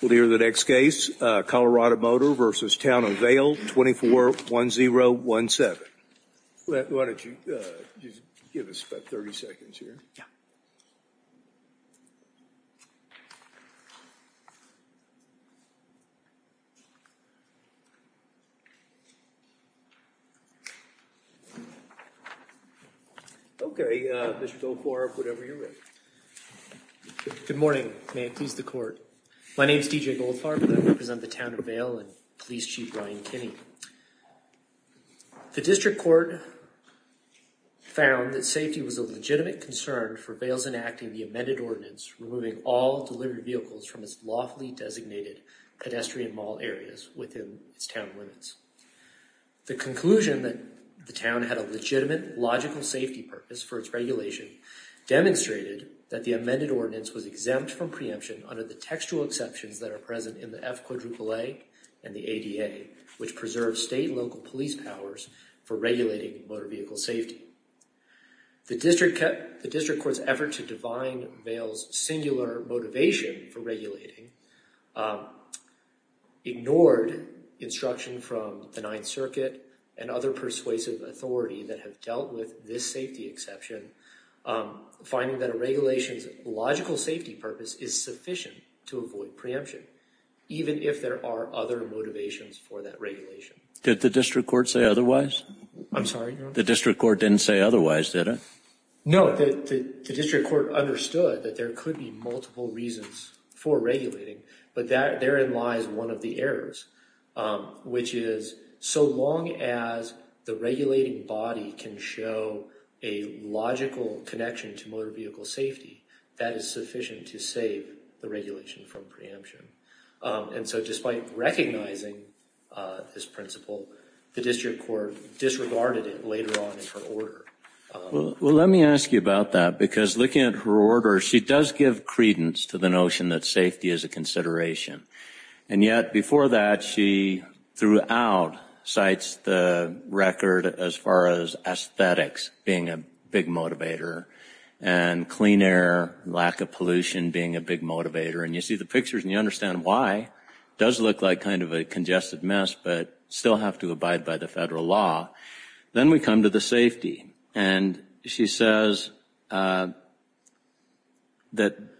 We'll hear the next case, Colorado Motor v. Town of Vail, 24-1017. Why don't you give us about 30 seconds here? Yeah. Okay, Mr. DelCorp, whenever you're ready. Good morning. May it please the Court. My name is D.J. Goldfarb and I represent the Town of Vail and Police Chief Ryan Kinney. The District Court found that safety was a legitimate concern for Vail's enacting the amended ordinance removing all delivered vehicles from its lawfully designated pedestrian mall areas within its Town limits. The conclusion that the Town had a legitimate, logical safety purpose for its regulation demonstrated that the amended ordinance was exempt from preemption under the textual exceptions that are present in the F-AAA and the ADA, which preserves state and local police powers for regulating motor vehicle safety. The District Court's effort to divine Vail's singular motivation for regulating ignored instruction from the Ninth Circuit and other persuasive authority that have dealt with this safety exception, finding that a regulation's logical safety purpose is sufficient to avoid preemption, even if there are other motivations for that regulation. Did the District Court say otherwise? I'm sorry? The District Court didn't say otherwise, did it? No, the District Court understood that there could be multiple reasons for regulating, but therein lies one of the errors, which is so long as the regulating body can show a logical connection to motor vehicle safety, that is sufficient to save the regulation from preemption. And so despite recognizing this principle, the District Court disregarded it later on in her order. Well, let me ask you about that, because looking at her order, she does give credence to the notion that safety is a consideration. And yet before that, she throughout cites the record as far as aesthetics being a big motivator and clean air, lack of pollution being a big motivator. And you see the pictures and you understand why. It does look like kind of a congested mess, but still have to abide by the federal law. Then we come to the safety. And she says that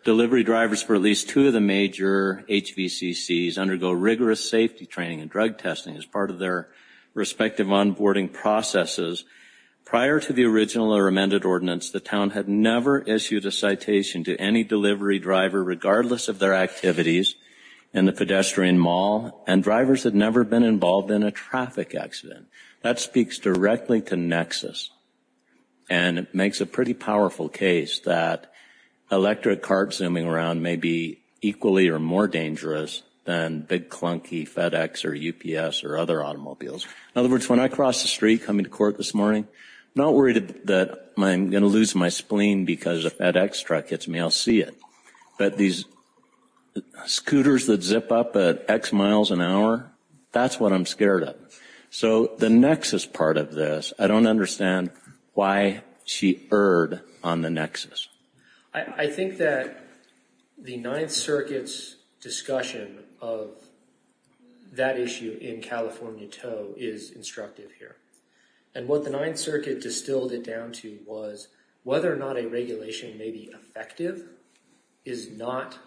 delivery drivers for at least two of the major HVCCs undergo rigorous safety training and drug testing as part of their respective onboarding processes. Prior to the original or amended ordinance, the town had never issued a citation to any delivery driver, regardless of their activities in the pedestrian mall, and drivers had never been involved in a traffic accident. That speaks directly to nexus. And it makes a pretty powerful case that electric carts zooming around may be equally or more dangerous than big clunky FedEx or UPS or other automobiles. In other words, when I cross the street coming to court this morning, I'm not worried that I'm going to lose my spleen because a FedEx truck hits me. I'll see it. But these scooters that zip up at X miles an hour, that's what I'm scared of. So the nexus part of this, I don't understand why she erred on the nexus. I think that the Ninth Circuit's discussion of that issue in California Toe is instructive here. And what the Ninth Circuit distilled it down to was whether or not a regulation may be effective is not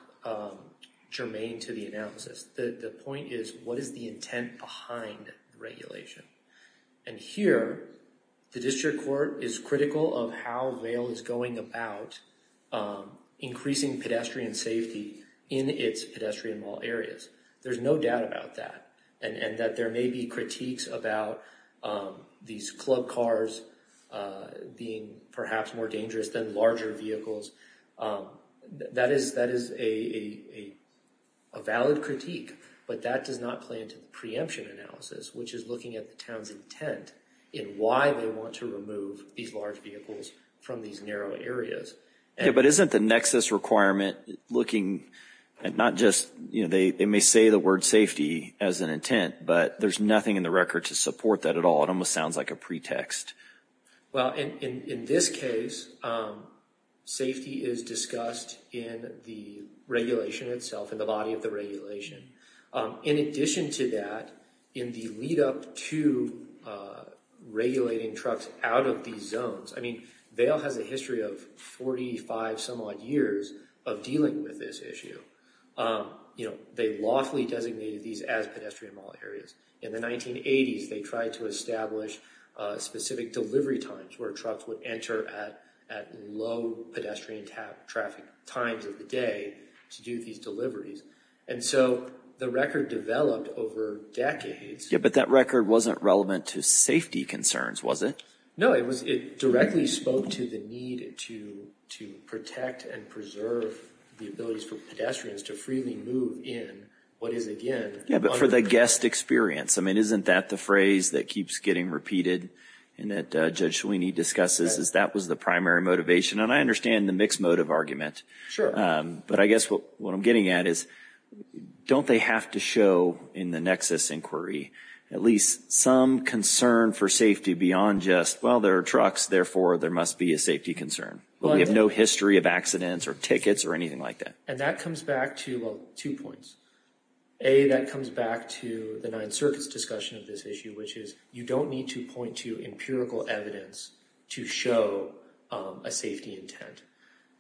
germane to the analysis. The point is, what is the intent behind regulation? And here, the district court is critical of how Vail is going about increasing pedestrian safety in its pedestrian mall areas. There's no doubt about that, and that there may be critiques about these club cars being perhaps more dangerous than larger vehicles. That is a valid critique, but that does not play into the preemption analysis, which is looking at the town's intent in why they want to remove these large vehicles from these narrow areas. But isn't the nexus requirement looking at not just, you know, they may say the word safety as an intent, but there's nothing in the record to support that at all. It almost sounds like a pretext. Well, in this case, safety is discussed in the regulation itself, in the body of the regulation. In addition to that, in the lead up to regulating trucks out of these zones, I mean, Vail has a history of 45 some odd years of dealing with this issue. You know, they lawfully designated these as pedestrian mall areas. In the 1980s, they tried to establish specific delivery times where trucks would enter at low pedestrian traffic times of the day to do these deliveries. And so the record developed over decades. Yeah, but that record wasn't relevant to safety concerns, was it? No, it directly spoke to the need to protect and preserve the abilities for pedestrians to freely move in what is, again… Yeah, but for the guest experience. I mean, isn't that the phrase that keeps getting repeated and that Judge Sweeney discusses is that was the primary motivation? And I understand the mixed motive argument. Sure. But I guess what I'm getting at is don't they have to show in the nexus inquiry at least some concern for safety beyond just, well, there are trucks, therefore there must be a safety concern. We have no history of accidents or tickets or anything like that. And that comes back to, well, two points. A, that comes back to the Ninth Circuit's discussion of this issue, which is you don't need to point to empirical evidence to show a safety intent.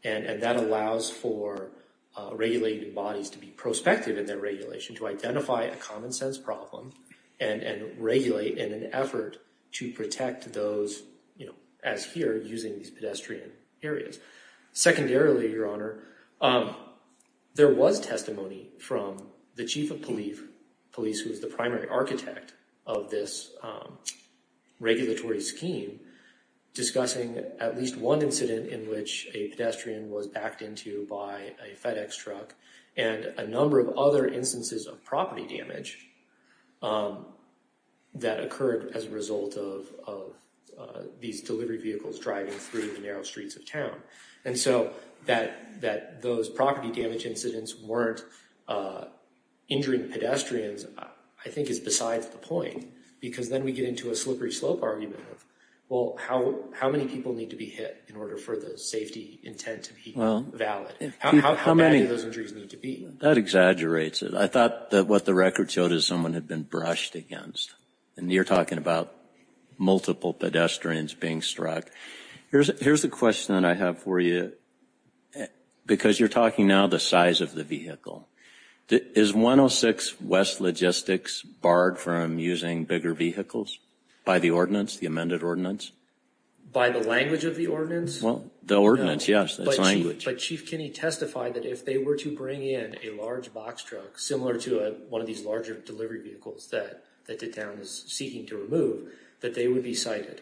And that allows for regulated bodies to be prospective in their regulation to identify a common sense problem and regulate in an effort to protect those, as here, using these pedestrian areas. Secondarily, Your Honor, there was testimony from the Chief of Police, who is the primary architect of this regulatory scheme, discussing at least one incident in which a pedestrian was backed into by a FedEx truck and a number of other instances of property damage that occurred as a result of these delivery vehicles driving through the narrow streets of town. And so that those property damage incidents weren't injuring pedestrians, I think, is besides the point. Because then we get into a slippery slope argument of, well, how many people need to be hit in order for the safety intent to be valid? How many of those injuries need to be? That exaggerates it. I thought that what the records showed is someone had been brushed against. And you're talking about multiple pedestrians being struck. Here's the question that I have for you, because you're talking now the size of the vehicle. Is 106 West Logistics barred from using bigger vehicles by the ordinance, the amended ordinance? By the language of the ordinance? Well, the ordinance, yes. But Chief Kinney testified that if they were to bring in a large box truck, similar to one of these larger delivery vehicles that the town is seeking to remove, that they would be cited.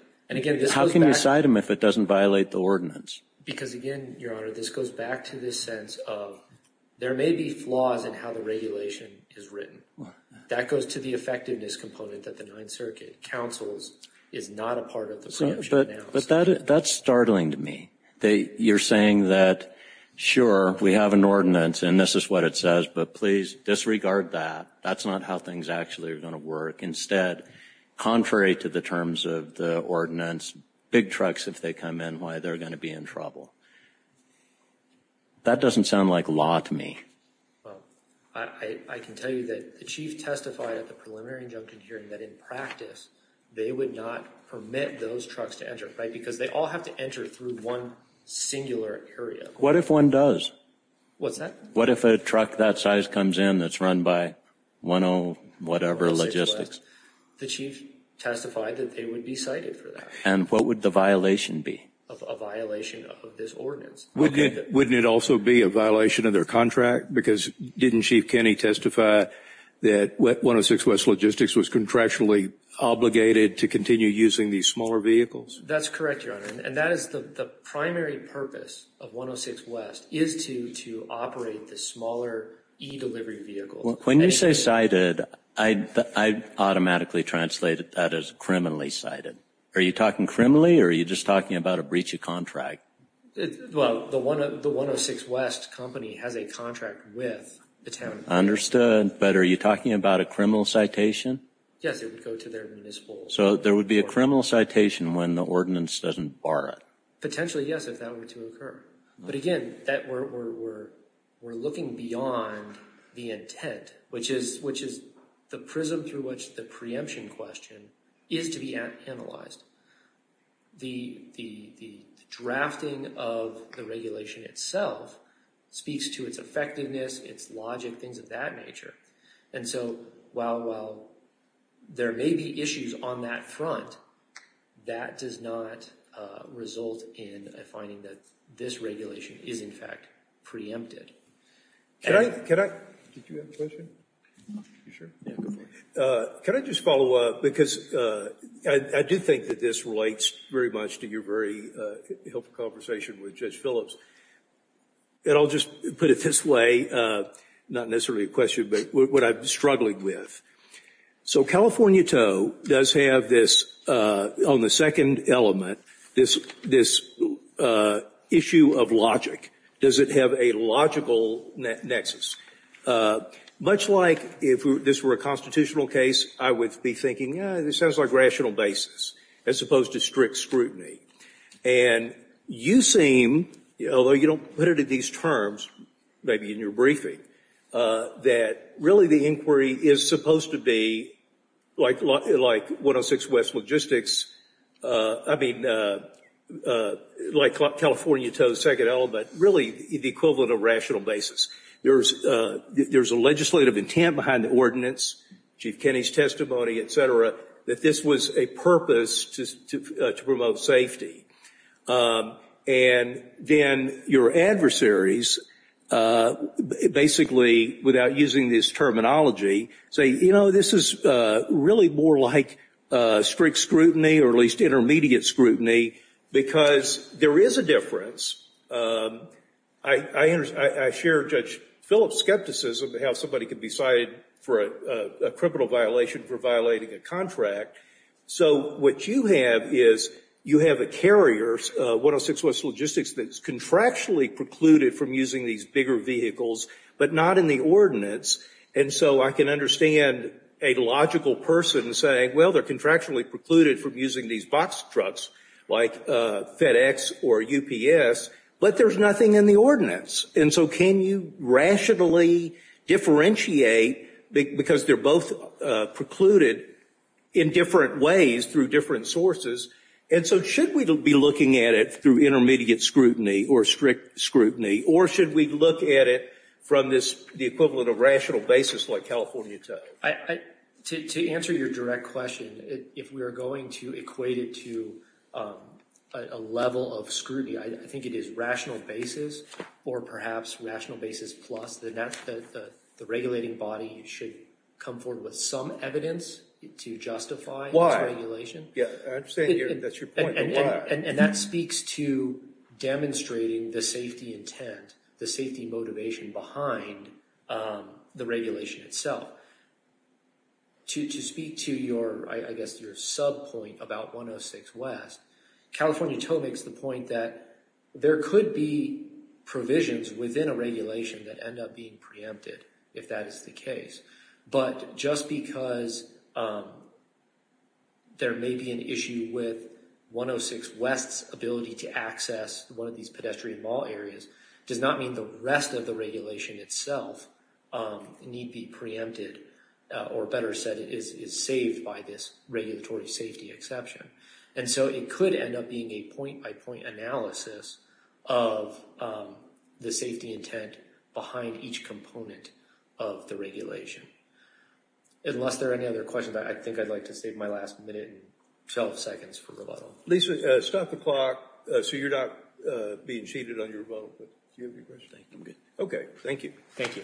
How can you cite them if it doesn't violate the ordinance? Because, again, Your Honor, this goes back to this sense of there may be flaws in how the regulation is written. That goes to the effectiveness component that the Ninth Circuit counsels is not a part of the project. But that's startling to me. You're saying that, sure, we have an ordinance and this is what it says, but please disregard that. That's not how things actually are going to work. Instead, contrary to the terms of the ordinance, big trucks, if they come in, why, they're going to be in trouble. That doesn't sound like law to me. Well, I can tell you that the Chief testified at the preliminary injunction hearing that in practice they would not permit those trucks to enter, right, because they all have to enter through one singular area. What if one does? What's that? If a truck of this size comes in that's run by 106 West, the Chief testified that they would be cited for that. And what would the violation be? A violation of this ordinance. Wouldn't it also be a violation of their contract? Because didn't Chief Kenney testify that 106 West Logistics was contractually obligated to continue using these smaller vehicles? That's correct, Your Honor. And that is the primary purpose of 106 West is to operate the smaller e-delivery vehicle. When you say cited, I automatically translated that as criminally cited. Are you talking criminally or are you just talking about a breach of contract? Well, the 106 West company has a contract with the town. Understood. But are you talking about a criminal citation? Yes, it would go to their municipal. So there would be a criminal citation when the ordinance doesn't bar it? Potentially, yes, if that were to occur. But again, we're looking beyond the intent, which is the prism through which the preemption question is to be analyzed. The drafting of the regulation itself speaks to its effectiveness, its logic, things of that nature. And so while there may be issues on that front, that does not result in a finding that this regulation is, in fact, preempted. Can I just follow up? Because I do think that this relates very much to your very helpful conversation with Judge Phillips. And I'll just put it this way, not necessarily a question, but what I'm struggling with. So California Toe does have this, on the second element, this issue of logic. Does it have a logical nexus? Much like if this were a constitutional case, I would be thinking, this sounds like rational basis as opposed to strict scrutiny. And you seem, although you don't put it in these terms, maybe in your briefing, that really the inquiry is supposed to be like 106 West Logistics, I mean like California Toe's second element, really the equivalent of rational basis. There's a legislative intent behind the ordinance, Chief Kenney's testimony, et cetera, that this was a purpose to promote safety. And then your adversaries, basically without using this terminology, say, you know, this is really more like strict scrutiny, or at least intermediate scrutiny, because there is a difference. I share Judge Phillips' skepticism of how somebody could be cited for a criminal violation for violating a contract. So what you have is you have a carrier, 106 West Logistics, that's contractually precluded from using these bigger vehicles, but not in the ordinance. And so I can understand a logical person saying, well, they're contractually precluded from using these box trucks like FedEx or UPS, but there's nothing in the ordinance. And so can you rationally differentiate, because they're both precluded in different ways through different sources, and so should we be looking at it through intermediate scrutiny or strict scrutiny, or should we look at it from the equivalent of rational basis like California Toe? To answer your direct question, if we are going to equate it to a level of scrutiny, I think it is rational basis or perhaps rational basis plus, then the regulating body should come forward with some evidence to justify its regulation. Why? I understand that's your point, but why? And that speaks to demonstrating the safety intent, the safety motivation behind the regulation itself. To speak to your, I guess, your sub point about 106 West, California Toe makes the point that there could be provisions within a regulation that end up being preempted if that is the case. But just because there may be an issue with 106 West's ability to access one of these pedestrian mall areas does not mean the rest of the regulation itself need be preempted, or better said, is saved by this regulatory safety exception. And so it could end up being a point by point analysis of the safety intent behind each component of the regulation. Unless there are any other questions, I think I'd like to save my last minute and 12 seconds for rebuttal. Lisa, stop the clock so you're not being cheated on your vote. Do you have your question? I'm good. Okay, thank you. Thank you.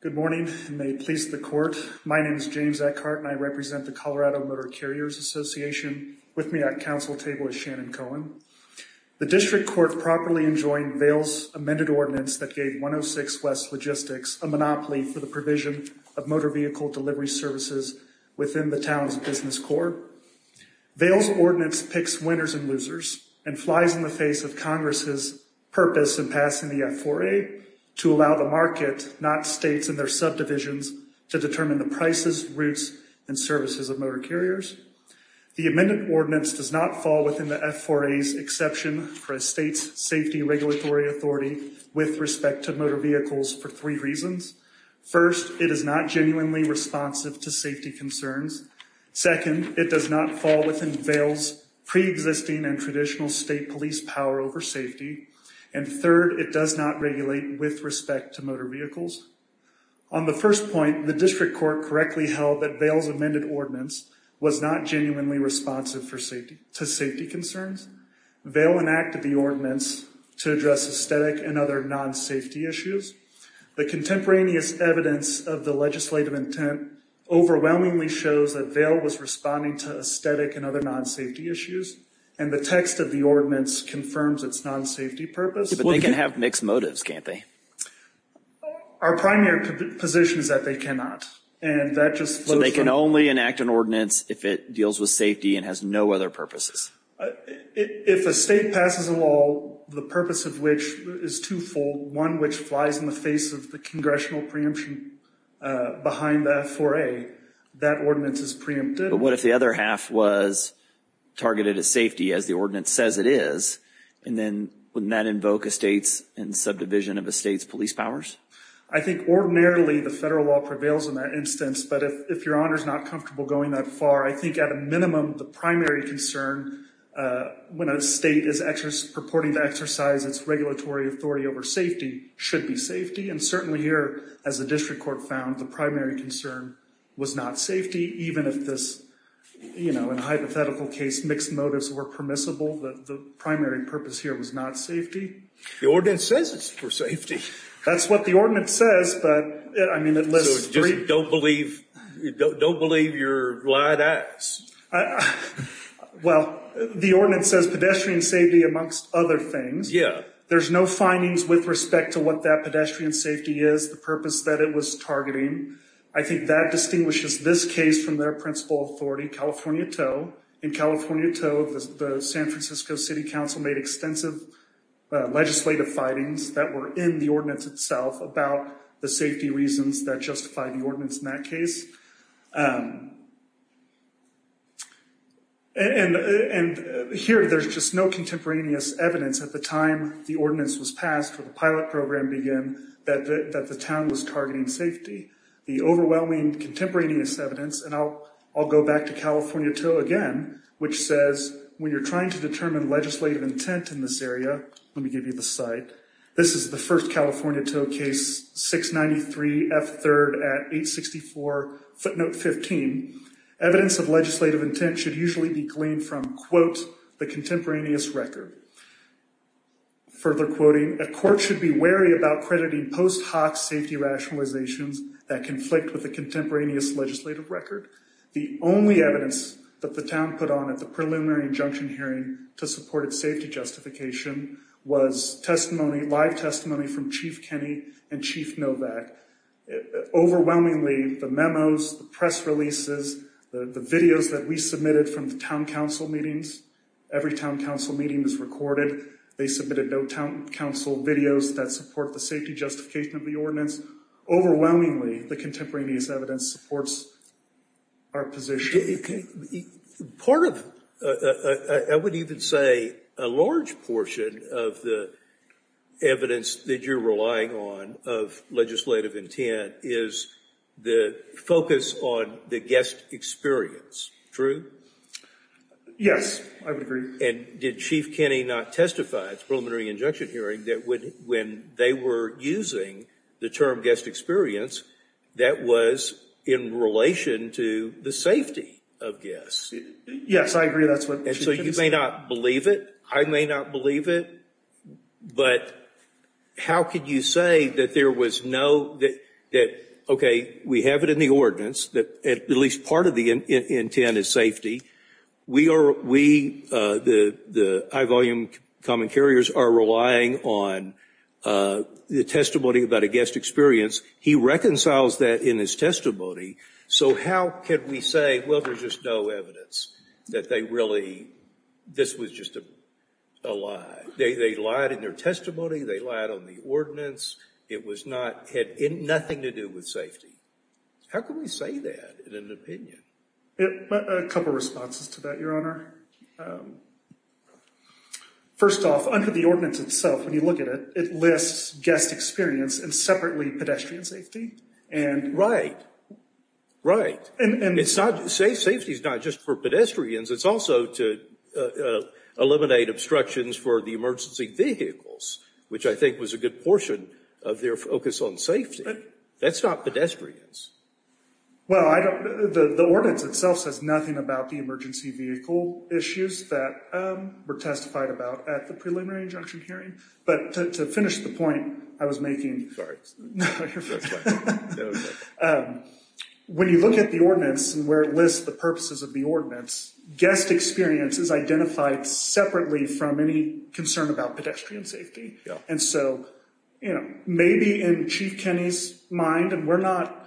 Good morning, and may it please the court. My name is James Eckhart, and I represent the Colorado Motor Carriers Association. With me at council table is Shannon Cohen. The district court properly enjoined Vail's amended ordinance that gave 106 West's logistics a monopoly for the provision of motor vehicle delivery services within the town's business core. Vail's ordinance picks winners and losers and flies in the face of Congress's purpose in passing the F4A to allow the market, not states and their subdivisions, to determine the prices, routes, and services of motor carriers. The amended ordinance does not fall within the F4A's exception for a state's safety regulatory authority with respect to motor vehicles for three reasons. First, it is not genuinely responsive to safety concerns. Second, it does not fall within Vail's preexisting and traditional state police power over safety. And third, it does not regulate with respect to motor vehicles. On the first point, the district court correctly held that Vail's amended ordinance was not genuinely responsive to safety concerns. Vail enacted the ordinance to address aesthetic and other non-safety issues. The contemporaneous evidence of the legislative intent overwhelmingly shows that Vail was responding to aesthetic and other non-safety issues, and the text of the ordinance confirms its non-safety purpose. But they can have mixed motives, can't they? Our primary position is that they cannot. So they can only enact an ordinance if it deals with safety and has no other purposes? If a state passes a law, the purpose of which is twofold, one which flies in the face of the congressional preemption behind the F4A, that ordinance is preempted. But what if the other half was targeted as safety, as the ordinance says it is, and then wouldn't that invoke a state's subdivision of a state's police powers? I think ordinarily the federal law prevails in that instance, but if Your Honor is not comfortable going that far, I think at a minimum the primary concern when a state is purporting to exercise its regulatory authority over safety should be safety. And certainly here, as the district court found, the primary concern was not safety, even if this, you know, in a hypothetical case mixed motives were permissible, the primary purpose here was not safety. The ordinance says it's for safety. That's what the ordinance says, but, I mean, it lists three. So just don't believe, don't believe your lied ass. Well, the ordinance says pedestrian safety amongst other things. Yeah. There's no findings with respect to what that pedestrian safety is, the purpose that it was targeting. I think that distinguishes this case from their principal authority, California Toe. In California Toe, the San Francisco City Council made extensive legislative findings that were in the ordinance itself about the safety reasons that justify the ordinance in that case. And here there's just no contemporaneous evidence at the time the ordinance was passed for the pilot program began that the town was targeting safety. The overwhelming contemporaneous evidence, and I'll go back to California Toe again, which says when you're trying to determine legislative intent in this area, let me give you the site, this is the first California Toe case, 693 F3rd at 864 footnote 15. Evidence of legislative intent should usually be gleaned from, quote, the contemporaneous record. Further quoting, a court should be wary about crediting post hoc safety rationalizations that conflict with the contemporaneous legislative record. The only evidence that the town put on at the preliminary injunction hearing to support its safety justification was testimony, live testimony from Chief Kenney and Chief Novak. Overwhelmingly, the memos, the press releases, the videos that we submitted from the town council meetings, every town council meeting is recorded. They submitted no town council videos that support the safety justification of the ordinance. Overwhelmingly, the contemporaneous evidence supports our position. Part of, I would even say a large portion of the evidence that you're relying on of legislative intent is the focus on the guest experience. Yes, I would agree. And did Chief Kenney not testify at the preliminary injunction hearing that when they were using the term guest experience, that was in relation to the safety of guests? Yes, I agree that's what Chief Kenney said. And so you may not believe it, I may not believe it, but how could you say that there was no, that, okay, we have it in the ordinance, that at least part of the intent is safety. We, the high volume common carriers, are relying on the testimony about a guest experience. He reconciles that in his testimony. So how could we say, well, there's just no evidence that they really, this was just a lie. They lied in their testimony, they lied on the ordinance. It was not, had nothing to do with safety. How could we say that in an opinion? A couple of responses to that, Your Honor. First off, under the ordinance itself, when you look at it, it lists guest experience and separately pedestrian safety. Right, right. Safety is not just for pedestrians. It's also to eliminate obstructions for the emergency vehicles, which I think was a good portion of their focus on safety. That's not pedestrians. Well, I don't, the ordinance itself says nothing about the emergency vehicle issues that were testified about at the preliminary injunction hearing. But to finish the point I was making, when you look at the ordinance and where it lists the purposes of the ordinance, guest experience is identified separately from any concern about pedestrian safety. And so, you know, maybe in Chief Kenney's mind, and we're not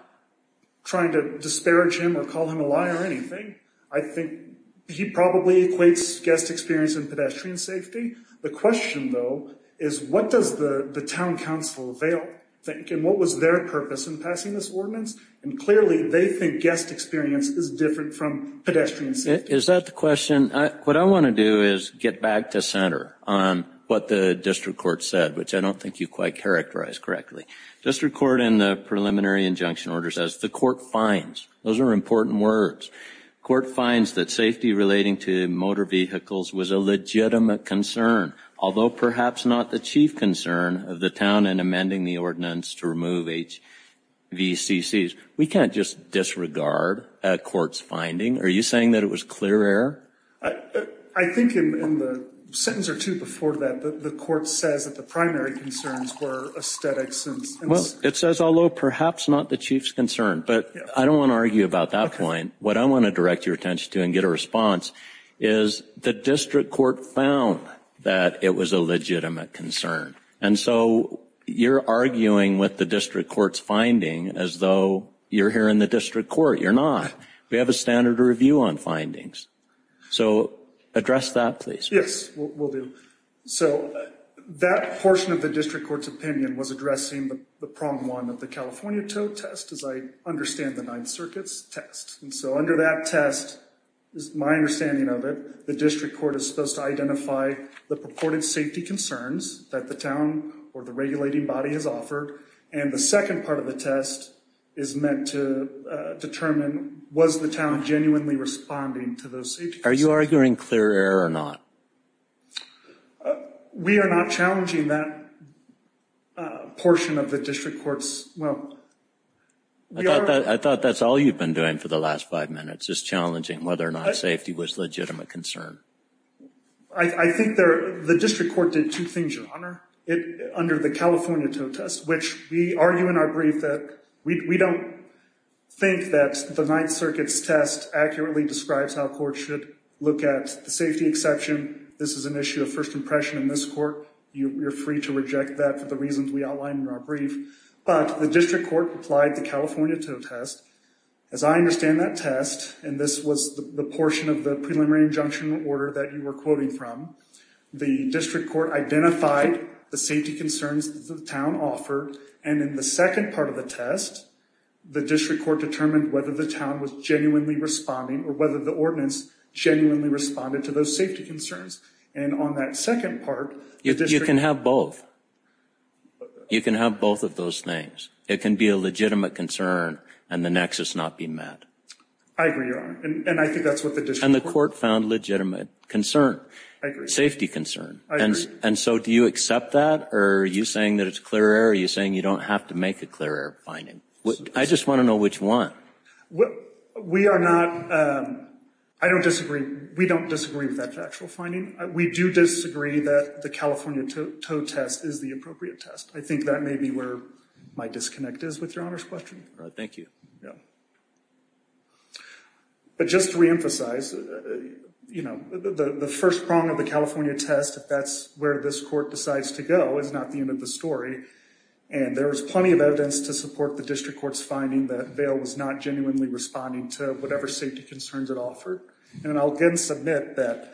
trying to disparage him or call him a liar or anything, I think he probably equates guest experience and pedestrian safety. The question, though, is what does the town council think, and what was their purpose in passing this ordinance? And clearly they think guest experience is different from pedestrian safety. Is that the question? What I want to do is get back to center on what the district court said, which I don't think you quite characterized correctly. District court in the preliminary injunction order says the court finds. Those are important words. Court finds that safety relating to motor vehicles was a legitimate concern, although perhaps not the chief concern of the town in amending the ordinance to remove HVCCs. We can't just disregard a court's finding. Are you saying that it was clear error? I think in the sentence or two before that, the court says that the primary concerns were aesthetics. Well, it says although perhaps not the chief's concern. But I don't want to argue about that point. What I want to direct your attention to and get a response is the district court found that it was a legitimate concern. And so you're arguing with the district court's finding as though you're here in the district court. You're not. We have a standard review on findings. So address that, please. Yes, we'll do. So that portion of the district court's opinion was addressing the problem one of the California tow test as I understand the Ninth Circuit's test. And so under that test is my understanding of it. The district court is supposed to identify the purported safety concerns that the town or the regulating body has offered. And the second part of the test is meant to determine was the town genuinely responding to those safety concerns. Are you arguing clear error or not? We are not challenging that portion of the district court's, well. I thought that's all you've been doing for the last five minutes, just challenging whether or not safety was a legitimate concern. I think the district court did two things, Your Honor, under the California tow test, which we argue in our brief that we don't think that the Ninth Circuit's test accurately describes how courts should look at the safety exception. This is an issue of first impression in this court. You're free to reject that for the reasons we outlined in our brief. But the district court applied the California tow test. As I understand that test, and this was the portion of the preliminary injunction order that you were And in the second part of the test, the district court determined whether the town was genuinely responding or whether the ordinance genuinely responded to those safety concerns. And on that second part. You can have both. You can have both of those things. It can be a legitimate concern and the nexus not be met. I agree, Your Honor. And I think that's what the district. And the court found legitimate concern. I agree. Safety concern. I agree. And so do you accept that? Or are you saying that it's clear error? Are you saying you don't have to make a clear error finding? I just want to know which one. We are not. I don't disagree. We don't disagree with that factual finding. We do disagree that the California tow test is the appropriate test. I think that may be where my disconnect is with Your Honor's question. Thank you. But just to reemphasize, you know, the first prong of the California test, if that's where this court decides to go, is not the end of the story. And there was plenty of evidence to support the district court's finding that Vail was not genuinely responding to whatever safety concerns it And I'll again submit that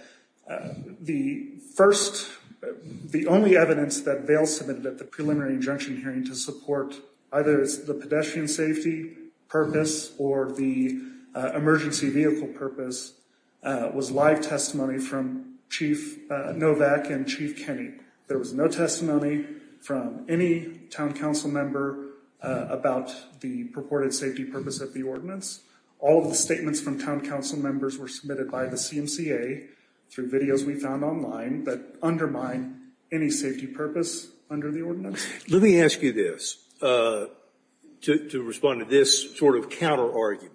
the first, the only evidence that Vail submitted at the preliminary injunction hearing to support either the pedestrian safety purpose or the emergency vehicle safety purpose was live testimony from Chief Novak and Chief Kenny. There was no testimony from any town council member about the purported safety purpose of the ordinance. All of the statements from town council members were submitted by the CMCA through videos we found online that undermine any safety purpose under the ordinance. Let me ask you this. To respond to this sort of counter argument,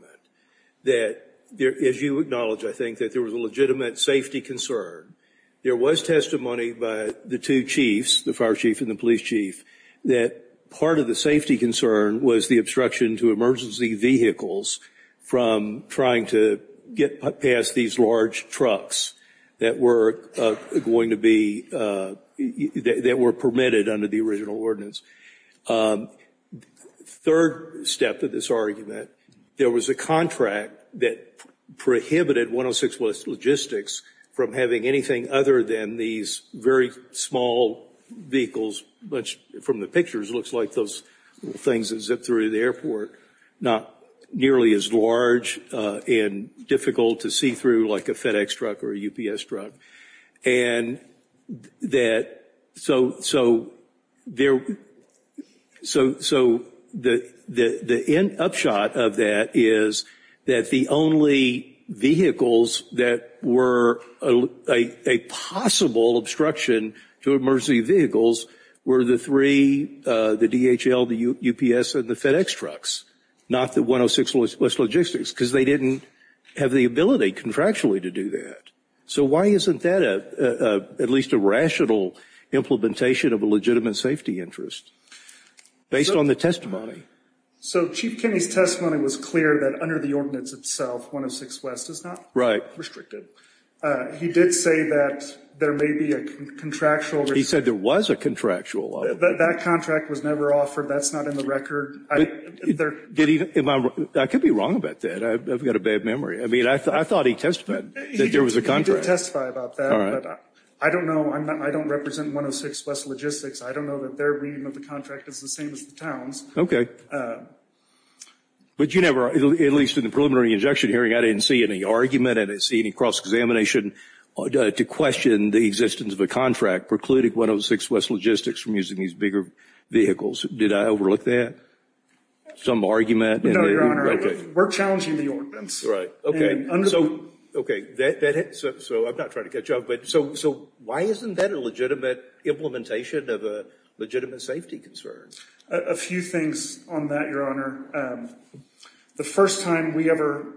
that as you acknowledge, I think, that there was a legitimate safety concern. There was testimony by the two chiefs, the fire chief and the police chief, that part of the safety concern was the obstruction to emergency vehicles from trying to get past these large trucks that were going to be, that were permitted under the original ordinance. Third step to this argument, there was a contract that prohibited 106 West Logistics from having anything other than these very small vehicles, much from the pictures, looks like those things that zip through the airport, not nearly as large and difficult to see through like a FedEx truck or a UPS truck. And so the upshot of that is that the only vehicles that were a possible obstruction to emergency vehicles were the three, the DHL, the UPS, and the FedEx trucks, not the 106 West Logistics, because they didn't have the ability contractually to do that. So why isn't that at least a rational implementation of a legitimate safety interest based on the testimony? So Chief Kinney's testimony was clear that under the ordinance itself, 106 West is not restricted. He did say that there may be a contractual. He said there was a contractual. That contract was never offered. That's not in the record. I could be wrong about that. I've got a bad memory. I mean, I thought he testified that there was a contract. He did testify about that. All right. But I don't know. I don't represent 106 West Logistics. I don't know that their reading of the contract is the same as the town's. Okay. But you never, at least in the preliminary injection hearing, I didn't see any argument. I didn't see any cross-examination to question the existence of a contract precluding 106 West Logistics from using these bigger vehicles. Did I overlook that, some argument? No, Your Honor. We're challenging the ordinance. Right. So I'm not trying to catch up. So why isn't that a legitimate implementation of a legitimate safety concern? A few things on that, Your Honor. The first time we ever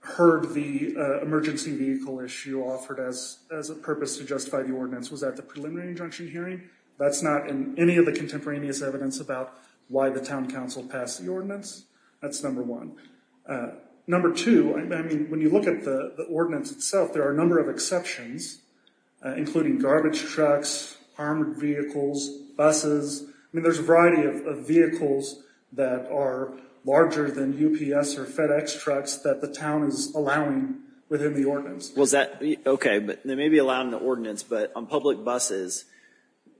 heard the emergency vehicle issue offered as a purpose to justify the ordinance was at the preliminary injunction hearing. That's not in any of the contemporaneous evidence about why the town council passed the ordinance. That's number one. Number two, I mean, when you look at the ordinance itself, there are a number of exceptions, including garbage trucks, armored vehicles, buses. I mean, there's a variety of vehicles that are larger than UPS or FedEx trucks that the town is allowing within the ordinance. Okay. They may be allowing the ordinance, but on public buses,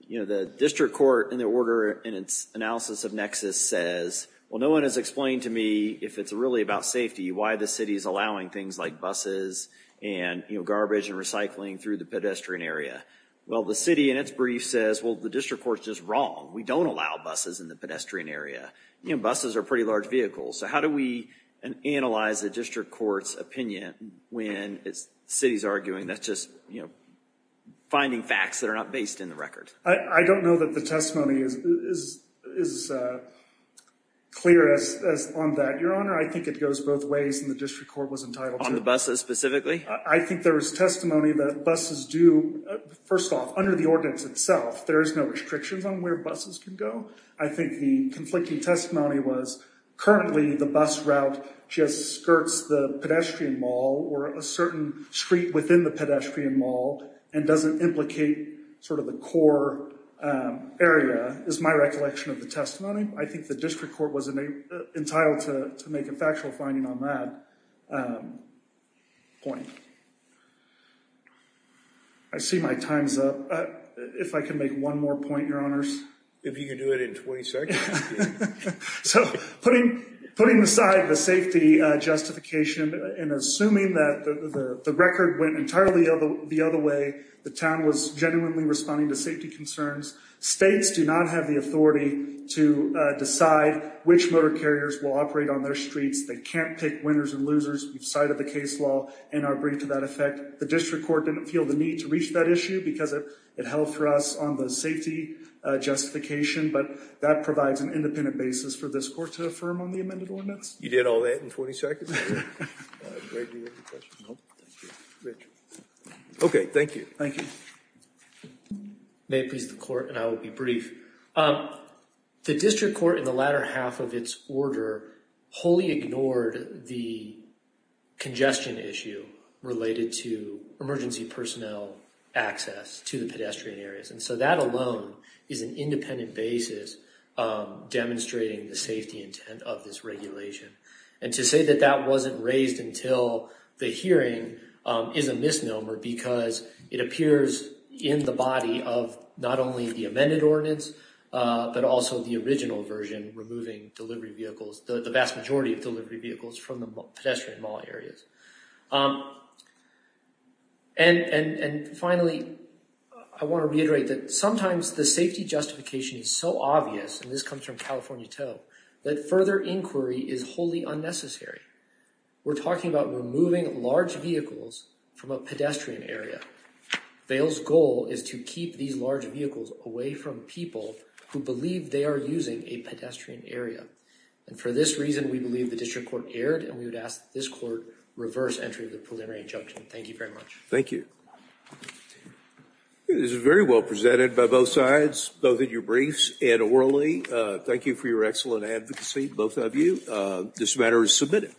the district court in the order in its analysis of Nexus says, well, no one has explained to me, if it's really about safety, why the city is allowing things like buses and, you know, garbage and recycling through the pedestrian area. Well, the city in its brief says, well, the district court's just wrong. We don't allow buses in the pedestrian area. You know, buses are pretty large vehicles. So how do we analyze the district court's opinion when the city's arguing that's just, you know, finding facts that are not based in the record? I don't know that the testimony is clear on that. Your Honor, I think it goes both ways and the district court was entitled to. On the buses specifically? I think there was testimony that buses do. First off, under the ordinance itself, there is no restrictions on where buses can go. I think the conflicting testimony was currently the bus route just skirts the pedestrian mall or a certain street within the pedestrian mall and doesn't implicate sort of the core area is my recollection of the testimony. I think the district court was entitled to make a factual finding on that point. I see my time's up. If I can make one more point, Your Honors. If you can do it in 20 seconds. So putting aside the safety justification and assuming that the record went entirely the other way, the town was genuinely responding to safety concerns. States do not have the authority to decide which motor carriers will operate on their streets. They can't pick winners and losers. We've cited the case law in our brief to that effect. The district court didn't feel the need to reach that issue because it held for us on the safety justification, but that provides an independent basis for this court to affirm on the amended ordinance. You did all that in 20 seconds? Greg, do you have a question? No, thank you. Rich. Okay, thank you. Thank you. May it please the court and I will be brief. The district court in the latter half of its order wholly ignored the congestion issue related to emergency personnel access to the pedestrian areas. And so that alone is an independent basis demonstrating the safety intent of this regulation. And to say that that wasn't raised until the hearing is a misnomer because it appears in the body of not only the amended ordinance, but also the original version removing delivery vehicles, the vast majority of delivery vehicles from the pedestrian mall areas. And finally, I want to reiterate that sometimes the safety justification is so obvious, and this comes from California Toe, that further inquiry is wholly unnecessary. We're talking about removing large vehicles from a pedestrian area. Vail's goal is to keep these large vehicles away from people who believe they are using a pedestrian area. And for this reason, we believe the district court erred and we would ask this court reverse entry of the preliminary injunction. Thank you very much. Thank you. This is very well presented by both sides, both in your briefs and orally. Thank you for your excellent advocacy. Both of you. This matter is submitted.